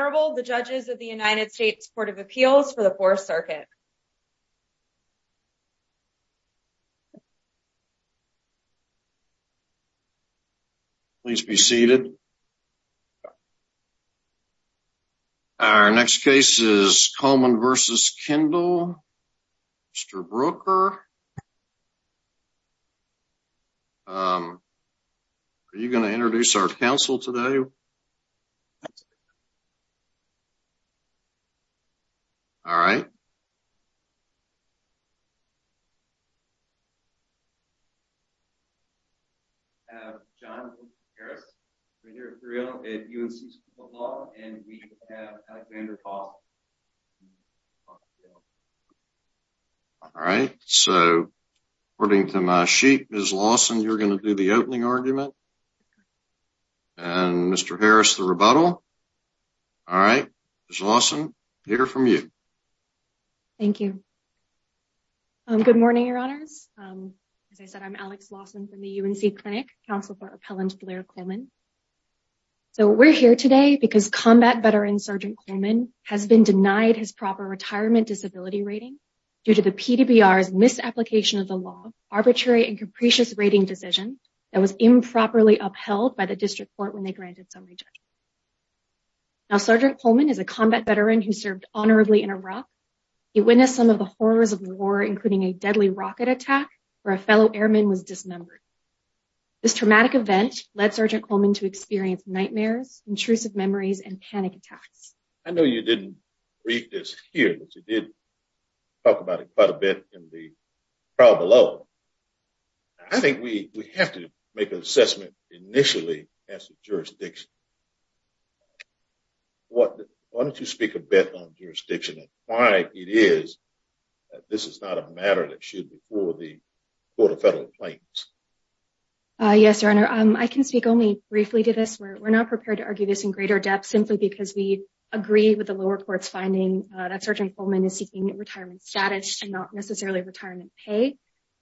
The judges of the United States Court of Appeals for the Fourth Circuit. Please be seated. Our next case is Coleman versus Kendall. Mr. Brooker. Are you going to introduce our counsel today? All right. John Harris. We're here at UNC law and we have Alexander Paul. All right, so according to my sheet is Lawson you're going to do the opening argument. And Mr. Harris the rebuttal. All right, awesome. Here from you. Thank you. Good morning, your honors. As I said, I'm Alex Lawson from the UNC Clinic Council for Appellant Blair Coleman. So we're here today because combat veteran Sergeant Coleman has been denied his proper retirement disability rating due to the PDR's misapplication of the law. Arbitrary and capricious rating decision that was improperly upheld by the district court when they granted. Now, Sergeant Coleman is a combat veteran who served honorably in Iraq. He witnessed some of the horrors of war, including a deadly rocket attack where a fellow airman was dismembered. This traumatic event led Sergeant Coleman to experience nightmares, intrusive memories and panic attacks. I know you didn't read this here, but you did talk about it quite a bit in the trial below. I think we have to make an assessment initially as a jurisdiction. Why don't you speak a bit on jurisdiction and why it is that this is not a matter that should be for the court of federal claims? Yes, your honor. I can speak only briefly to this. We're not prepared to argue this in greater depth simply because we agree with the lower court's finding that Sergeant Coleman is seeking retirement status and not necessarily retirement pay.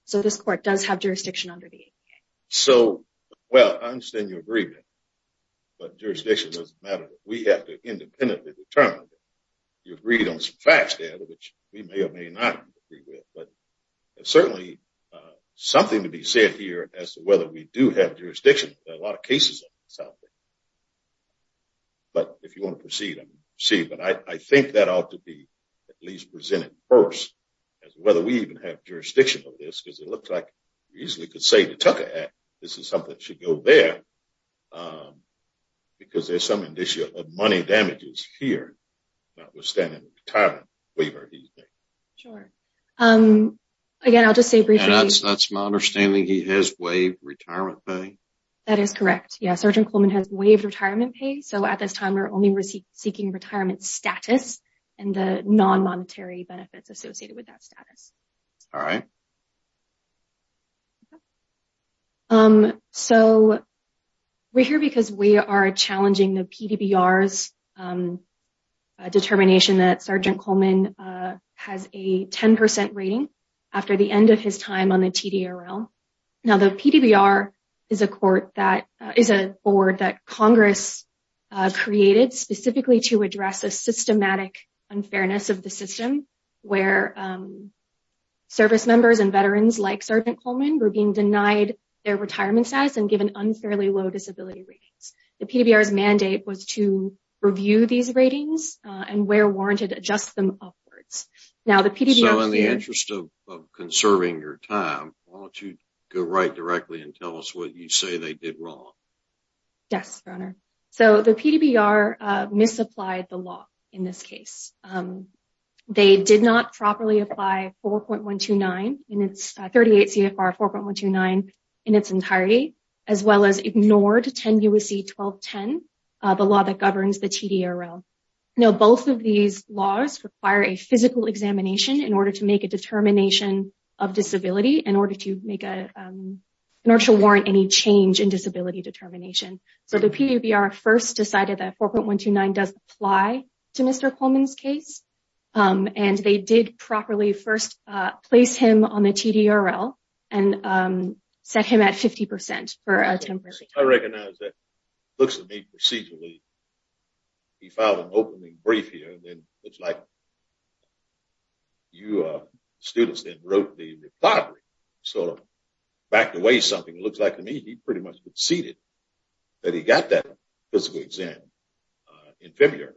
So this court does have jurisdiction under the APA. So, well, I understand your agreement, but jurisdiction doesn't matter. We have to independently determine that. You agreed on some facts there, which we may or may not agree with. But certainly something to be said here as to whether we do have jurisdiction. There are a lot of cases of this out there. But if you want to proceed, I mean, see, but I think that ought to be at least presented first as whether we even have jurisdiction of this, because it looks like you easily could say the Tucker Act, this is something that should go there because there's some initial money damages here. Notwithstanding the retirement waiver, do you think? Sure. Again, I'll just say briefly. That's my understanding. He has waived retirement pay. That is correct. Yes, Sergeant Coleman has waived retirement pay. So at this time, we're only seeking retirement status and the non-monetary benefits associated with that status. All right. So we're here because we are challenging the PDBR's determination that Sergeant Coleman has a 10 percent rating after the end of his time on the TDRL. Now, the PDBR is a court that is a board that Congress created specifically to address a systematic unfairness of the system where service members and veterans like Sergeant Coleman were being denied their retirement status and given unfairly low disability ratings. The PDBR's mandate was to review these ratings and where warranted adjust them upwards. So in the interest of conserving your time, why don't you go right directly and tell us what you say they did wrong? Yes, Your Honor. So the PDBR misapplied the law in this case. They did not properly apply 4.129 in its 38 CFR 4.129 in its entirety, as well as ignored 10 U.S.C. 1210, the law that governs the TDRL. Now, both of these laws require a physical examination in order to make a determination of disability in order to warrant any change in disability determination. So the PDBR first decided that 4.129 does apply to Mr. Coleman's case, and they did properly first place him on the TDRL and set him at 50 percent for a temporary term. I recognize that it looks to me procedurally, he filed an opening brief here, and then it looks like you students then wrote the rebuttal. So back away something. It looks like to me he pretty much conceded that he got that physical exam in February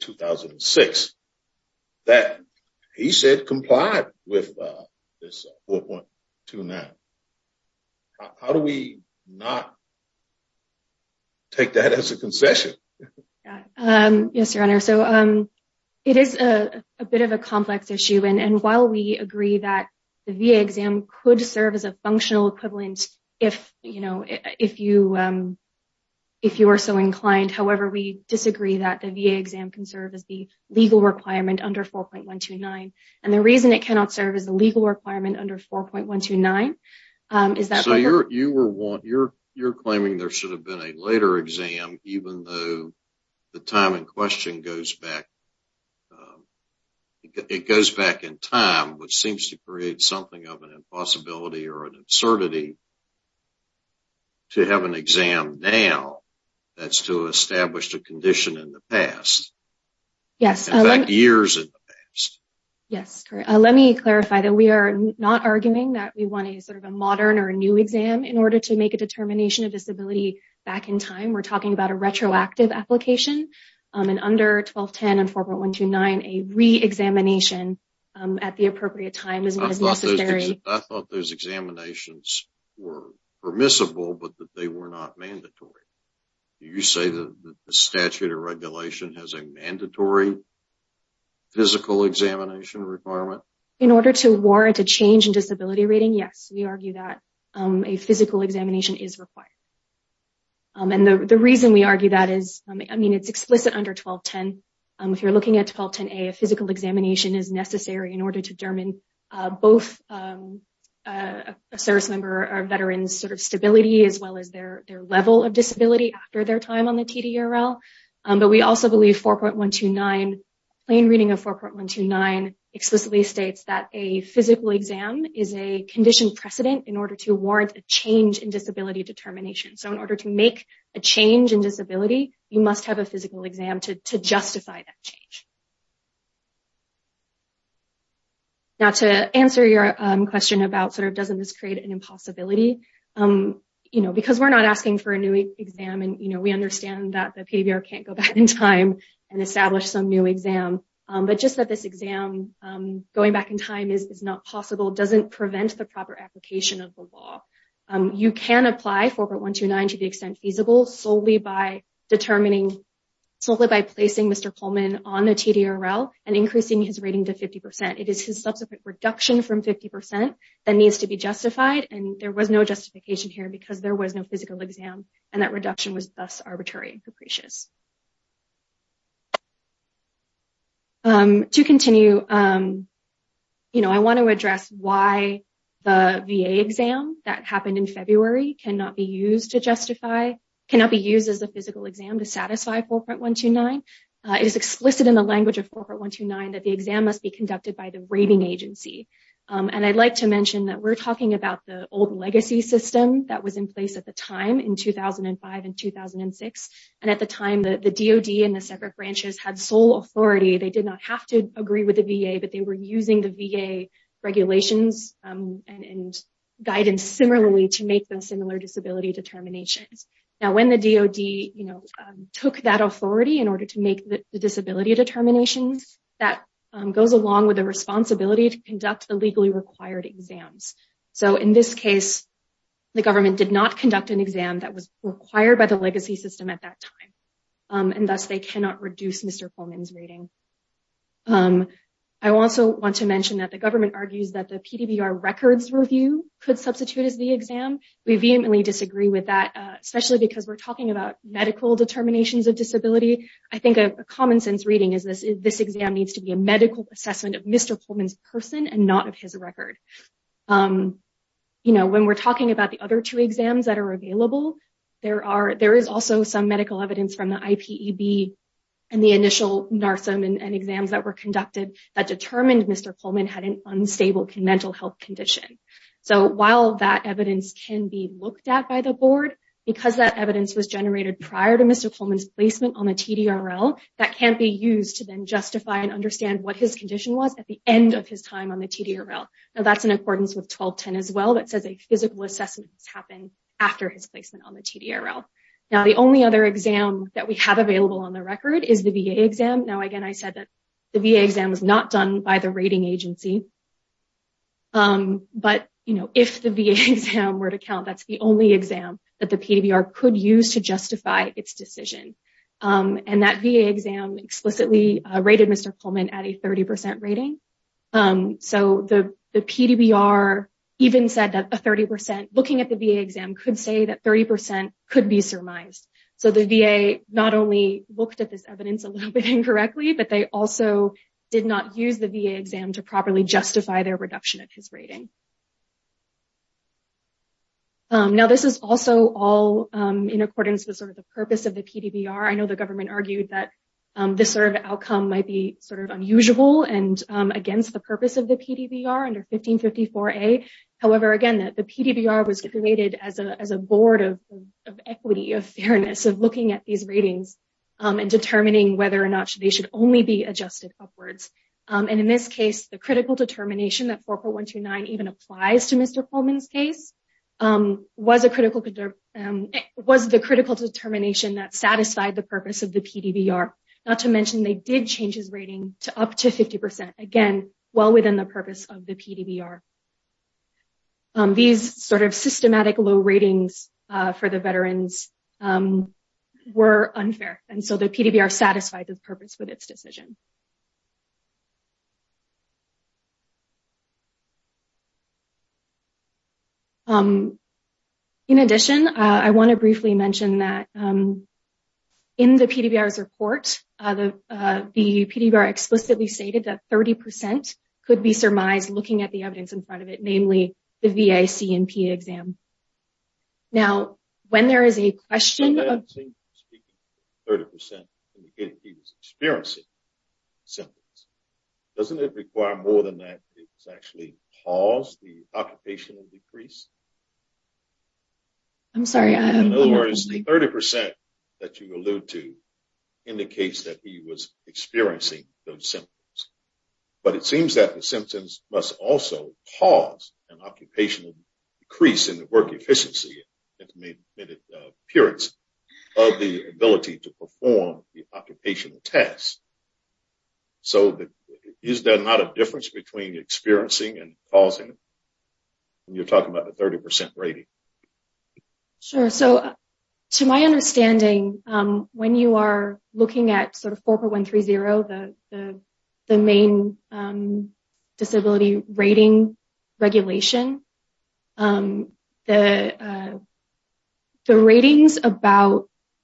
2006 that he said complied with this 4.29. How do we not take that as a concession? Yes, Your Honor. So it is a bit of a complex issue. And while we agree that the VA exam could serve as a functional equivalent, if you are so inclined, however, we disagree that the VA exam can serve as the legal requirement under 4.129. And the reason it cannot serve as a legal requirement under 4.129 is that... So you're claiming there should have been a later exam, even though the time in question goes back. It goes back in time, which seems to create something of an impossibility or an absurdity to have an exam now that's to establish a condition in the past. In fact, years in the past. Yes. Let me clarify that we are not arguing that we want a sort of a modern or a new exam in order to make a determination of disability back in time. We're talking about a retroactive application and under 1210 and 4.129, a re-examination at the appropriate time is not as necessary. I thought those examinations were permissible, but that they were not mandatory. Do you say that the statute or regulation has a mandatory physical examination requirement? In order to warrant a change in disability rating, yes, we argue that a physical examination is required. And the reason we argue that is, I mean, it's explicit under 1210. If you're looking at 1210A, a physical examination is necessary in order to determine both a service member or veteran's sort of stability as well as their level of disability after their time on the TDRL. But we also believe 4.129, plain reading of 4.129 explicitly states that a physical exam is a conditioned precedent in order to warrant a change in disability determination. So in order to make a change in disability, you must have a physical exam to justify that change. Now, to answer your question about sort of doesn't this create an impossibility, you know, because we're not asking for a new exam. And, you know, we understand that the PDBR can't go back in time and establish some new exam. But just that this exam going back in time is not possible doesn't prevent the proper application of the law. You can apply 4.129 to the extent feasible solely by determining, solely by placing Mr. Pullman on the TDRL and increasing his rating to 50 percent. It is his subsequent reduction from 50 percent that needs to be justified. And there was no justification here because there was no physical exam and that reduction was thus arbitrary and capricious. To continue, you know, I want to address why the VA exam that happened in February cannot be used to justify, cannot be used as a physical exam to satisfy 4.129. It is explicit in the language of 4.129 that the exam must be conducted by the rating agency. And I'd like to mention that we're talking about the old legacy system that was in place at the time in 2005 and 2006. And at the time, the DOD and the separate branches had sole authority. They did not have to agree with the VA, but they were using the VA regulations and guidance similarly to make those similar disability determinations. Now, when the DOD, you know, took that authority in order to make the disability determinations, that goes along with the responsibility to conduct the legally required exams. So in this case, the government did not conduct an exam that was required by the legacy system at that time. And thus, they cannot reduce Mr. Pullman's rating. I also want to mention that the government argues that the PDBR records review could substitute as the exam. We vehemently disagree with that, especially because we're talking about medical determinations of disability. I think a common sense reading is this. This exam needs to be a medical assessment of Mr. Pullman's person and not of his record. You know, when we're talking about the other two exams that are available, there is also some medical evidence from the IPEB and the initial NARSIM and exams that were conducted that determined Mr. Pullman had an unstable mental health condition. So while that evidence can be looked at by the board, because that evidence was generated prior to Mr. Pullman's placement on the TDRL, that can't be used to then justify and understand what his condition was at the end of his time on the TDRL. Now, that's in accordance with 1210 as well that says a physical assessment has happened after his placement on the TDRL. Now, the only other exam that we have available on the record is the VA exam. Now, again, I said that the VA exam was not done by the rating agency. But, you know, if the VA exam were to count, that's the only exam that the PDBR could use to justify its decision. And that VA exam explicitly rated Mr. Pullman at a 30% rating. So the PDBR even said that a 30% looking at the VA exam could say that 30% could be surmised. So the VA not only looked at this evidence a little bit incorrectly, but they also did not use the VA exam to properly justify their reduction of his rating. Now, this is also all in accordance with sort of the purpose of the PDBR. I know the government argued that this sort of outcome might be sort of unusual and against the purpose of the PDBR under 1554A. However, again, the PDBR was created as a board of equity, of fairness, of looking at these ratings and determining whether or not they should only be adjusted upwards. And in this case, the critical determination that 4.129 even applies to Mr. Pullman's case was the critical determination that satisfied the purpose of the PDBR. Not to mention they did change his rating to up to 50%, again, well within the purpose of the PDBR. These sort of systematic low ratings for the veterans were unfair. And so the PDBR satisfied the purpose with its decision. In addition, I want to briefly mention that in the PDBR's report, the PDBR explicitly stated that 30% could be surmised looking at the evidence in front of it, namely the VA C&P exam. Now, when there is a question of... 30% indicated he was experiencing symptoms. Doesn't it require more than that to actually cause the occupational decrease? I'm sorry. In other words, the 30% that you alluded to indicates that he was experiencing those symptoms. But it seems that the symptoms must also cause an occupational decrease in the work efficiency in the mid-periods of the ability to perform the occupational test. So, is there not a difference between experiencing and causing when you're talking about the 30% rating? Sure. So, to my understanding, when you are looking at sort of 4.130, the main disability rating regulation, the ratings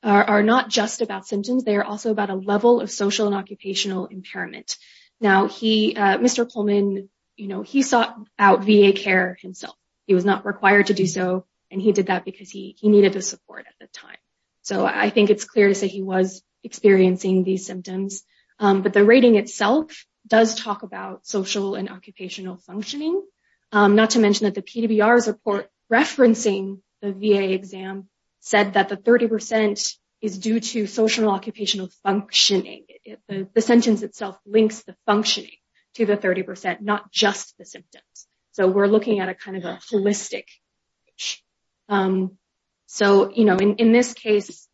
are not just about symptoms. They are also about a level of social and occupational impairment. Now, Mr. Pullman, you know, he sought out VA care himself. He was not required to do so, and he did that because he needed the support at the time. So, I think it's clear to say he was experiencing these symptoms. But the rating itself does talk about social and occupational functioning. Not to mention that the PDBR's report referencing the VA exam said that the 30% is due to social and occupational functioning. The sentence itself links the functioning to the 30%, not just the symptoms. So, we're looking at a kind of a holistic. So, you know, in this case,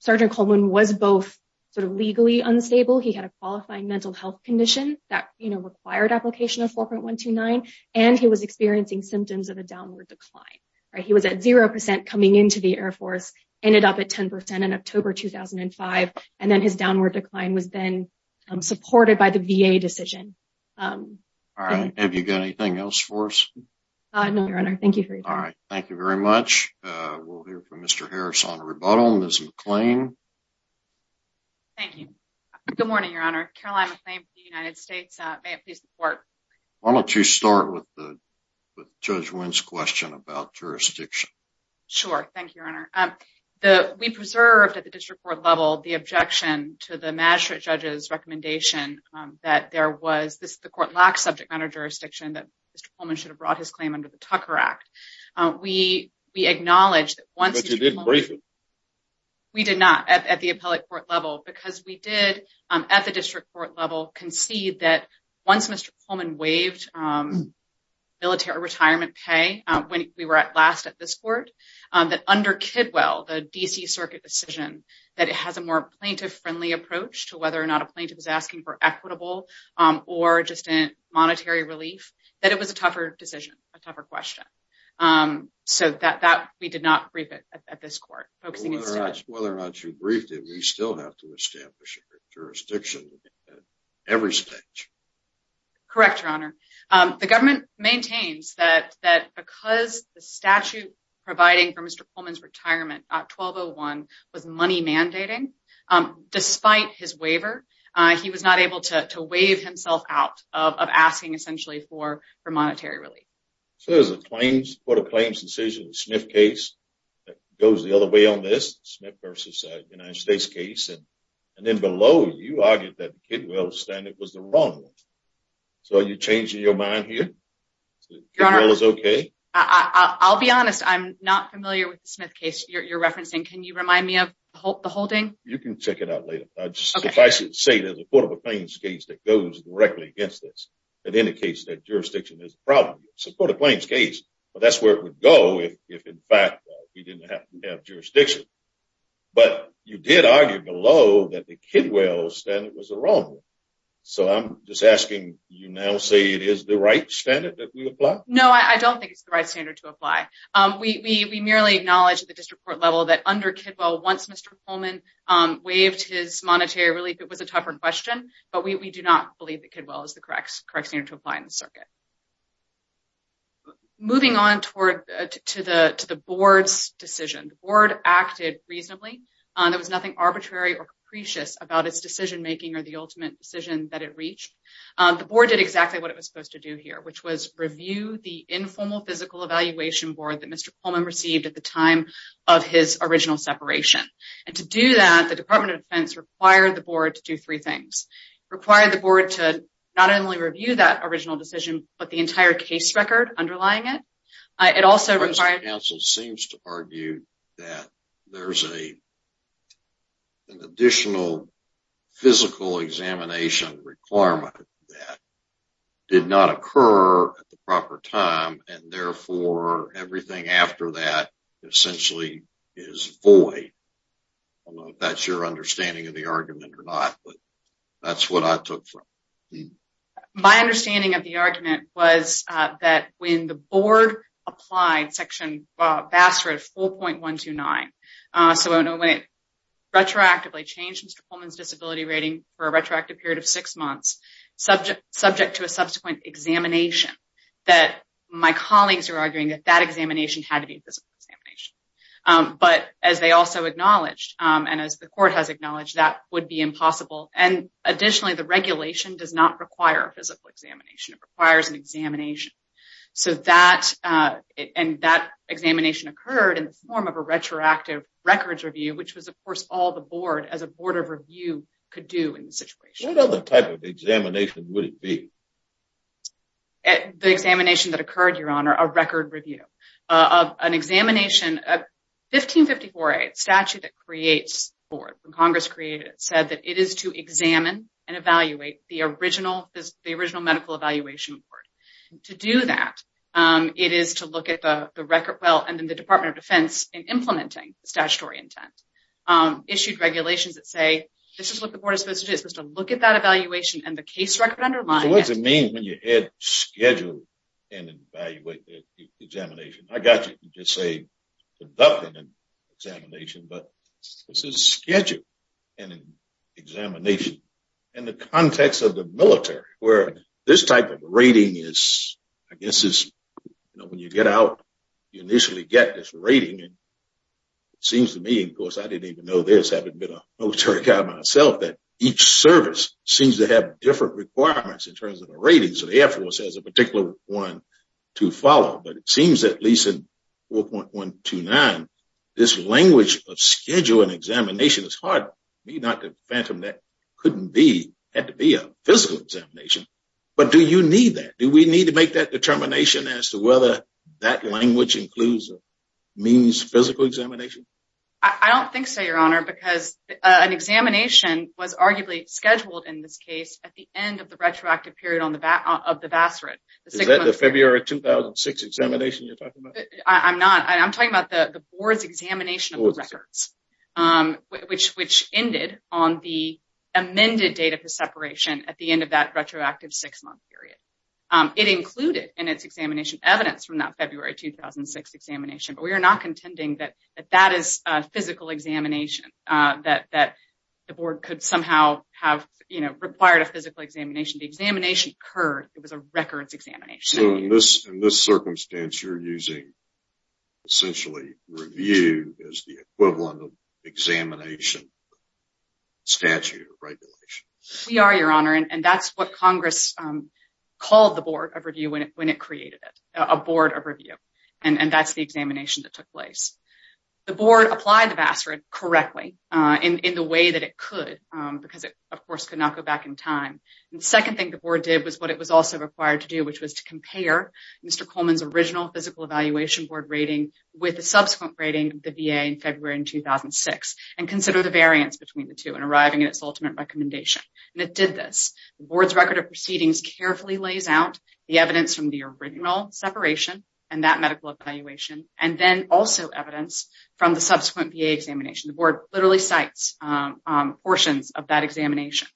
Sergeant Coleman was both sort of legally unstable. He had a qualifying mental health condition that, you know, required application of 4.129, and he was experiencing symptoms of a downward decline. He was at 0% coming into the Air Force, ended up at 10% in October 2005, and then his downward decline was then supported by the VA decision. All right. Have you got anything else for us? No, Your Honor. Thank you for your time. All right. Thank you very much. We'll hear from Mr. Harris on rebuttal. Ms. McClain? Thank you. Good morning, Your Honor. Caroline McClain for the United States. May I please report? Why don't you start with Judge Wynn's question about jurisdiction? Sure. Thank you, Your Honor. We preserved at the district court level the objection to the magistrate judge's recommendation that there was the court lacks subject matter jurisdiction that Mr. Coleman should have brought his claim under the Tucker Act. But you did brief him. We did not at the appellate court level because we did at the district court level concede that once Mr. Coleman waived military retirement pay when we were last at this court, that under Kidwell, the D.C. Circuit decision, that it has a more plaintiff-friendly approach to whether or not a plaintiff is asking for equitable or just monetary relief, that it was a tougher decision, a tougher question. So we did not brief it at this court. Whether or not you briefed him, we still have to establish jurisdiction at every stage. Correct, Your Honor. The government maintains that because the statute providing for Mr. Coleman's retirement, 1201, was money mandating, despite his waiver, he was not able to waive himself out of asking essentially for monetary relief. So there's a claims, court of claims decision, the Smith case, that goes the other way on this, the Smith v. United States case, and then below, you argued that Kidwell's standard was the wrong one. So are you changing your mind here? Your Honor, I'll be honest, I'm not familiar with the Smith case you're referencing. Can you remind me of the holding? You can check it out later. Suffice it to say, there's a court of claims case that goes directly against this. It indicates that jurisdiction is a problem. It's a court of claims case, but that's where it would go if, in fact, we didn't have jurisdiction. But you did argue below that the Kidwell standard was the wrong one. So I'm just asking, you now say it is the right standard that we apply? No, I don't think it's the right standard to apply. We merely acknowledge at the district court level that under Kidwell, once Mr. Coleman waived his monetary relief, it was a tougher question, but we do not believe that Kidwell is the correct standard to apply in the circuit. Moving on to the board's decision, the board acted reasonably. There was nothing arbitrary or capricious about its decision making or the ultimate decision that it reached. The board did exactly what it was supposed to do here, which was review the informal physical evaluation board that Mr. Coleman received at the time of his original separation. And to do that, the Department of Defense required the board to do three things. It required the board to not only review that original decision, but the entire case record underlying it. It also required... The Council seems to argue that there's an additional physical examination requirement that did not occur at the proper time, and therefore everything after that essentially is void. I don't know if that's your understanding of the argument or not, but that's what I took from it. My understanding of the argument was that when the board applied Section BASRA 4.129, so when it retroactively changed Mr. Coleman's disability rating for a retroactive period of six months, subject to a subsequent examination, that my colleagues are arguing that that examination had to be a physical examination. But as they also acknowledged, and as the court has acknowledged, that would be impossible. And additionally, the regulation does not require a physical examination. It requires an examination. And that examination occurred in the form of a retroactive records review, which was of course all the board as a board of review could do in the situation. What other type of examination would it be? The examination that occurred, Your Honor, a record review of an examination of 1554A statute that creates the board. When Congress created it, it said that it is to examine and evaluate the original medical evaluation report. To do that, it is to look at the record, well, and then the Department of Defense in implementing statutory intent issued regulations that say, this is what the board is supposed to do. It's supposed to look at that evaluation and the case record underlying it. What does it mean when you add schedule and evaluate the examination? I got you. You just say conducting an examination, but this is schedule and examination. In the context of the military, where this type of rating is, I guess, when you get out, you initially get this rating. It seems to me, of course, I didn't even know this, having been a military guy myself, that each service seems to have different requirements in terms of the ratings. The Air Force has a particular one to follow, but it seems at least in 4.129, this language of schedule and examination is harder. I don't think so, Your Honor, because an examination was arguably scheduled in this case at the end of the retroactive period of the Vassarate. Is that the February 2006 examination you're talking about? I'm talking about the board's examination of the records, which ended on the amended date of the separation at the end of that retroactive six-month period. It included in its examination evidence from that February 2006 examination, but we are not contending that that is a physical examination, that the board could somehow have required a physical examination. The examination occurred. It was a records examination. So, in this circumstance, you're using, essentially, review as the equivalent of examination statute or regulation? We are, Your Honor, and that's what Congress called the board of review when it created it, a board of review, and that's the examination that took place. The board applied the Vassarate correctly in the way that it could because it, of course, could not go back in time. The second thing the board did was what it was also required to do, which was to compare Mr. Coleman's original physical evaluation board rating with the subsequent rating of the VA in February 2006 and consider the variance between the two in arriving at its ultimate recommendation. And it did this. The board's record of proceedings carefully lays out the evidence from the original separation and that medical evaluation and then also evidence from the subsequent VA examination. The board literally cites portions of that examination.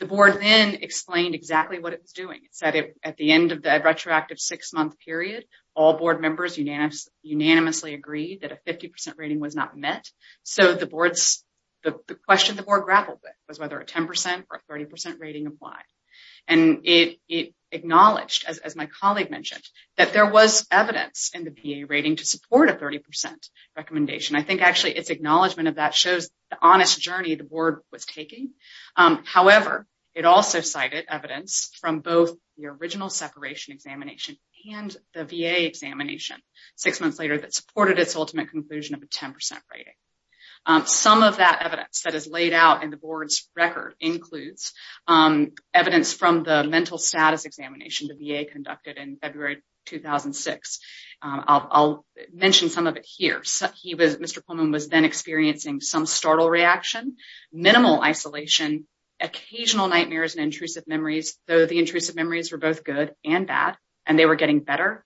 The board then explained exactly what it was doing. It said at the end of the retroactive six-month period, all board members unanimously agreed that a 50% rating was not met. So, the question the board grappled with was whether a 10% or a 30% rating applied. And it acknowledged, as my colleague mentioned, that there was evidence in the VA rating to support a 30% recommendation. I think actually its acknowledgement of that shows the honest journey the board was taking. However, it also cited evidence from both the original separation examination and the VA examination six months later that supported its ultimate conclusion of a 10% rating. Some of that evidence that is laid out in the board's record includes evidence from the mental status examination the VA conducted in February 2006. I'll mention some of it here. Mr. Pullman was then experiencing some startle reaction, minimal isolation, occasional nightmares and intrusive memories, though the intrusive memories were both good and bad, and they were getting better.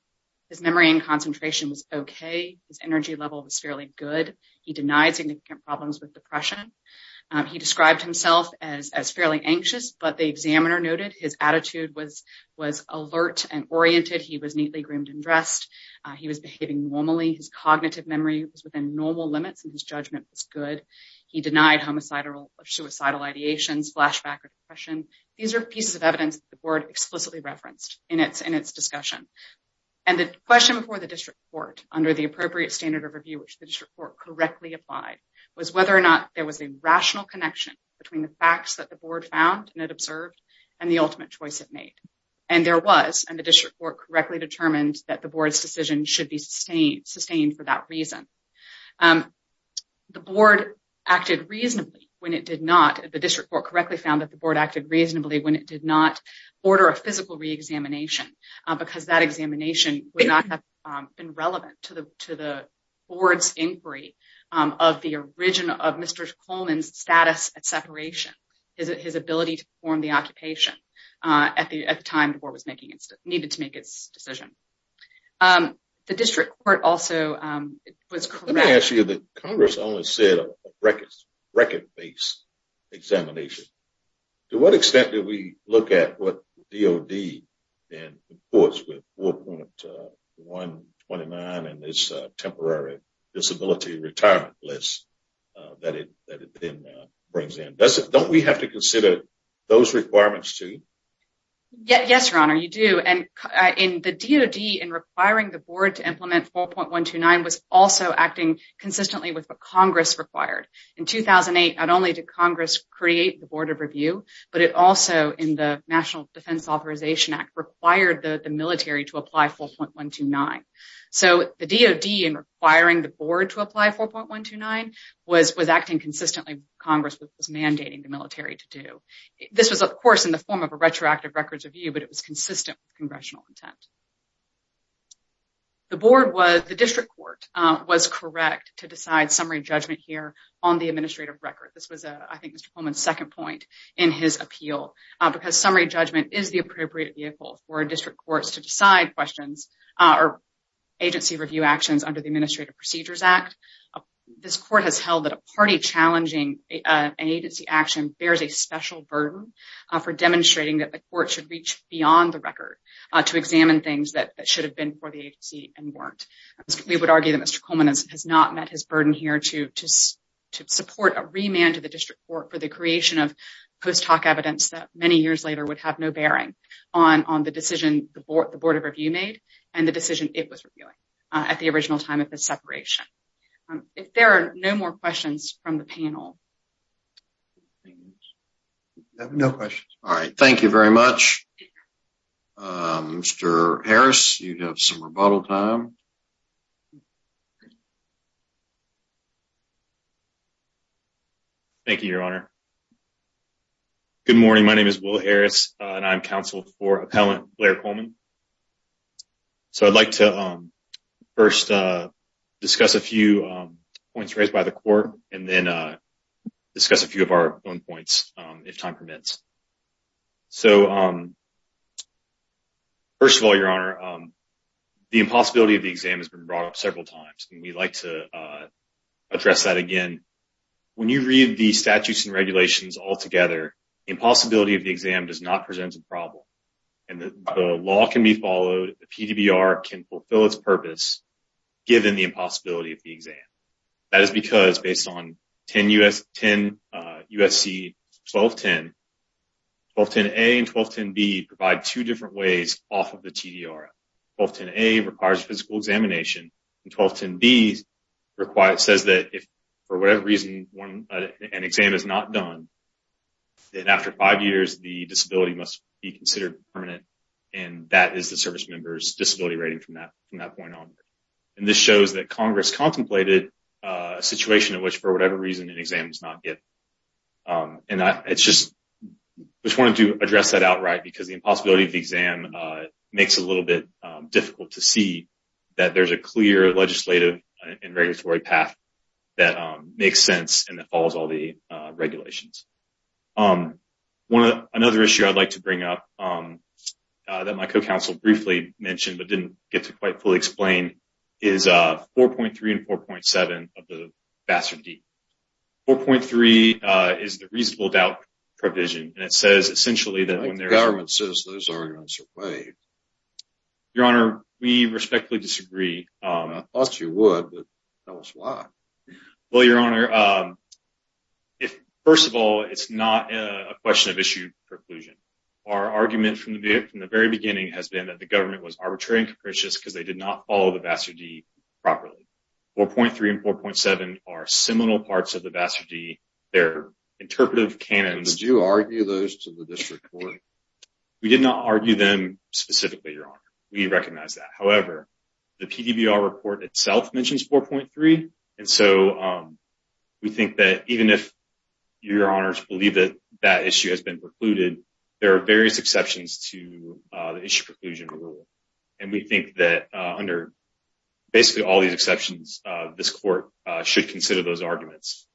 His memory and concentration was okay. His energy level was fairly good. He denied significant problems with depression. He described himself as fairly anxious, but the examiner noted his attitude was alert and oriented. He was neatly groomed and dressed. He was behaving normally. His cognitive memory was within normal limits and his judgment was good. He denied homicidal or suicidal ideations, flashback or depression. These are pieces of evidence the board explicitly referenced in its discussion. The question before the district court under the appropriate standard of review, which the district court correctly applied, was whether or not there was a rational connection between the facts that the board found and observed and the ultimate choice it made. There was, and the district court correctly determined that the board's decision should be sustained for that reason. The board acted reasonably when it did not. The district court correctly found that the board acted reasonably when it did not order a physical reexamination because that examination would not have been relevant to the board's inquiry of Mr. Pullman's status at separation, his ability to perform the occupation at the time the board needed to make its decision. The district court also was correct. Let me ask you, Congress only said a record-based examination. To what extent did we look at what DOD reports with 4.129 and this temporary disability retirement list that it then brings in? Don't we have to consider those requirements too? Yes, Your Honor, you do. The DOD in requiring the board to implement 4.129 was also acting consistently with what Congress required. In 2008, not only did Congress create the Board of Review, but it also, in the National Defense Authorization Act, required the military to apply 4.129. So, the DOD in requiring the board to apply 4.129 was acting consistently with what Congress was mandating the military to do. This was, of course, in the form of a retroactive records review, but it was consistent with congressional intent. The district court was correct to decide summary judgment here on the administrative record. This was, I think, Mr. Pullman's second point in his appeal because summary judgment is the appropriate vehicle for district courts to decide questions or agency review actions under the Administrative Procedures Act. This court has held that a party challenging an agency action bears a special burden for demonstrating that the court should reach beyond the record to examine things that should have been for the agency and weren't. We would argue that Mr. Pullman has not met his burden here to support a remand to the district court for the creation of post hoc evidence that many years later would have no bearing on the decision the Board of Review made and the decision it was reviewing at the original time of the separation. If there are no more questions from the panel. No questions. All right. Thank you very much. Mr. Harris, you have some rebuttal time. Thank you, Your Honor. Good morning. My name is Will Harris, and I'm counsel for appellant Blair Coleman. So I'd like to first discuss a few points raised by the court and then discuss a few of our own points, if time permits. So, first of all, Your Honor, the impossibility of the exam has been brought up several times. We'd like to address that again. When you read the statutes and regulations altogether, the impossibility of the exam does not present a problem. And the law can be followed. The PDBR can fulfill its purpose, given the impossibility of the exam. That is because based on 10 U.S. 10 U.S.C. 1210, 1210A and 1210B provide two different ways off of the TDR. 1210A requires physical examination, and 1210B says that if for whatever reason an exam is not done, then after five years the disability must be considered permanent. And that is the service member's disability rating from that point on. And this shows that Congress contemplated a situation in which for whatever reason an exam is not given. And I just wanted to address that outright, because the impossibility of the exam makes it a little bit difficult to see that there's a clear legislative and regulatory path that makes sense and that follows all the regulations. Another issue I'd like to bring up that my co-counsel briefly mentioned but didn't get to quite fully explain is 4.3 and 4.7 of the Bastard Deed. 4.3 is the reasonable doubt provision. And it says essentially that when the government says those arguments are waived. Your Honor, we respectfully disagree. I thought you would, but tell us why. Well, Your Honor, first of all, it's not a question of issue preclusion. Our argument from the very beginning has been that the government was arbitrary and capricious because they did not follow the Bastard Deed properly. 4.3 and 4.7 are seminal parts of the Bastard Deed. They're interpretive canons. Did you argue those to the district court? We did not argue them specifically, Your Honor. We recognize that. However, the PDBR report itself mentions 4.3. And so we think that even if Your Honors believe that that issue has been precluded, there are various exceptions to the issue preclusion rule. And we think that under basically all these exceptions, this court should consider those arguments.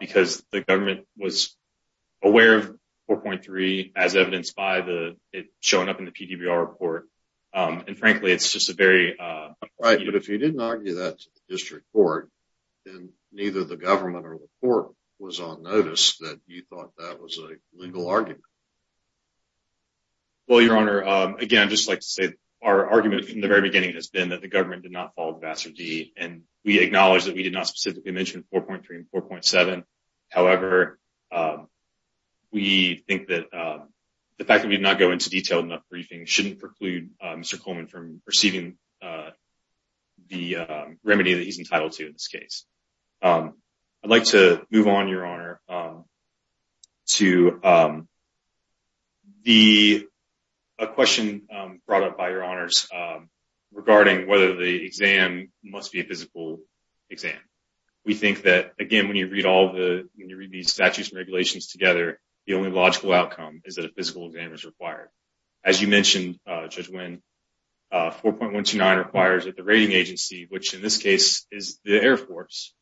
Because the government was aware of 4.3 as evidenced by the it showing up in the PDBR report. And frankly, it's just a very right. But if you didn't argue that district court, then neither the government or the court was on notice that you thought that was a legal argument. Well, Your Honor, again, I'd just like to say our argument from the very beginning has been that the government did not follow the Bastard Deed. And we acknowledge that we did not specifically mention 4.3 and 4.7. However, we think that the fact that we did not go into detail enough briefing shouldn't preclude Mr. Coleman from receiving the remedy that he's entitled to in this case. I'd like to move on, Your Honor, to the question brought up by Your Honors regarding whether the exam must be a physical exam. We think that, again, when you read all the when you read these statutes and regulations together, the only logical outcome is that a physical exam is required. As you mentioned, Judge Wynn, 4.129 requires that the rating agency, which in this case is the Air Force,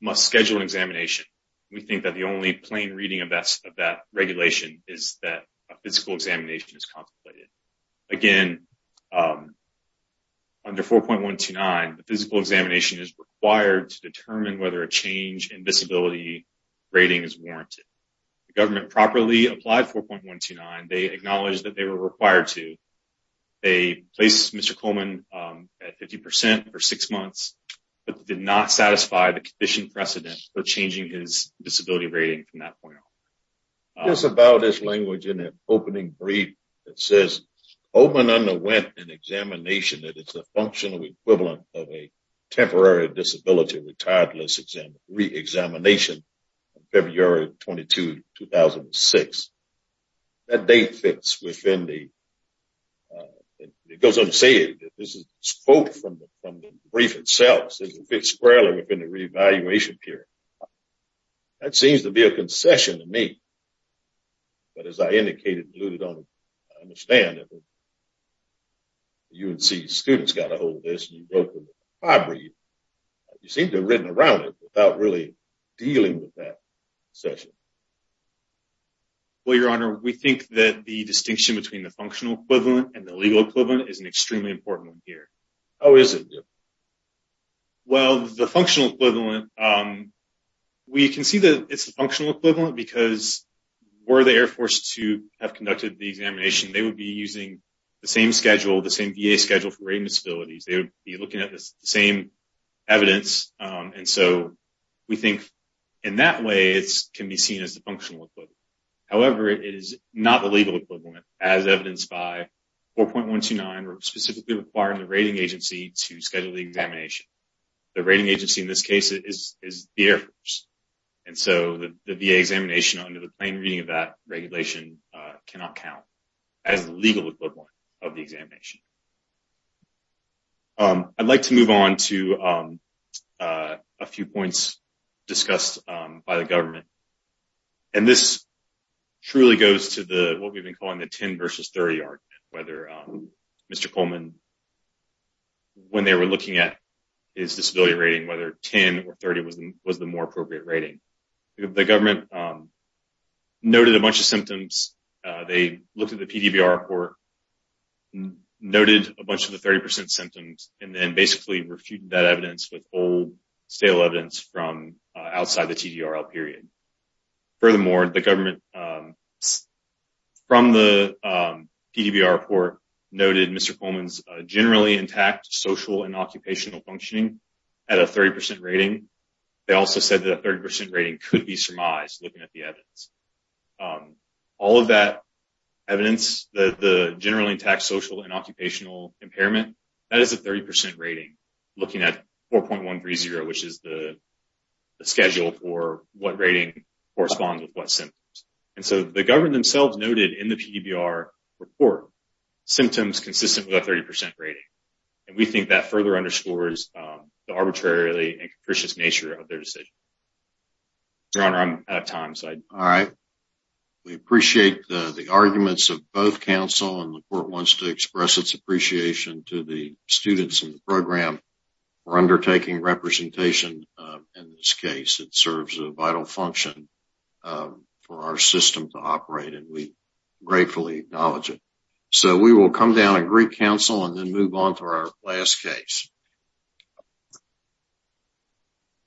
must schedule an examination. We think that the only plain reading of that regulation is that a physical examination is contemplated. Again, under 4.129, the physical examination is required to determine whether a change in visibility rating is warranted. The government properly applied 4.129. They acknowledged that they were required to. They placed Mr. Coleman at 50 percent for six months, but did not satisfy the condition precedent for changing his disability rating from that point on. It's about this language in the opening brief that says, Coleman underwent an examination that is the functional equivalent of a temporary disability retired list re-examination on February 22, 2006. That date fits within the, it goes on to say that this is a quote from the brief itself. It fits squarely within the reevaluation period. That seems to be a concession to me, but as I indicated and alluded on, I understand if a UNC student's got a hold of this and you wrote them a copy, you seem to have written around it without really dealing with that concession. Well, Your Honor, we think that the distinction between the functional equivalent and the legal equivalent is an extremely important one here. How is it different? Well, the functional equivalent, we can see that it's the functional equivalent because were the Air Force to have conducted the examination, they would be using the same schedule, the same VA schedule for rating disabilities. They would be looking at the same evidence. And so we think in that way, it can be seen as the functional equivalent. However, it is not the legal equivalent as evidenced by 4.129, where we're specifically requiring the rating agency to schedule the examination. The rating agency in this case is the Air Force. And so the VA examination under the plain reading of that regulation cannot count as the legal equivalent of the examination. I'd like to move on to a few points discussed by the government. And this truly goes to what we've been calling the 10 versus 30 argument, whether Mr. Coleman, when they were looking at his disability rating, whether 10 or 30 was the more appropriate rating. The government noted a bunch of symptoms. They looked at the PDVR report, noted a bunch of the 30 percent symptoms, and then basically refuted that evidence with old, stale evidence from outside the TDRL period. Furthermore, the government from the PDVR report noted Mr. Coleman's generally intact social and occupational functioning at a 30 percent rating. They also said that a 30 percent rating could be surmised looking at the evidence. All of that evidence, the generally intact social and occupational impairment, that is a 30 percent rating, looking at 4.130, which is the schedule for what rating corresponds with what symptoms. And so the government themselves noted in the PDVR report symptoms consistent with a 30 percent rating. And we think that further underscores the arbitrarily and capricious nature of their decision. Your Honor, I'm out of time. All right. We appreciate the arguments of both counsel, and the court wants to express its appreciation to the students in the program for undertaking representation in this case. It serves a vital function for our system to operate, and we gratefully acknowledge it. So we will come down and greet counsel and then move on to our last case.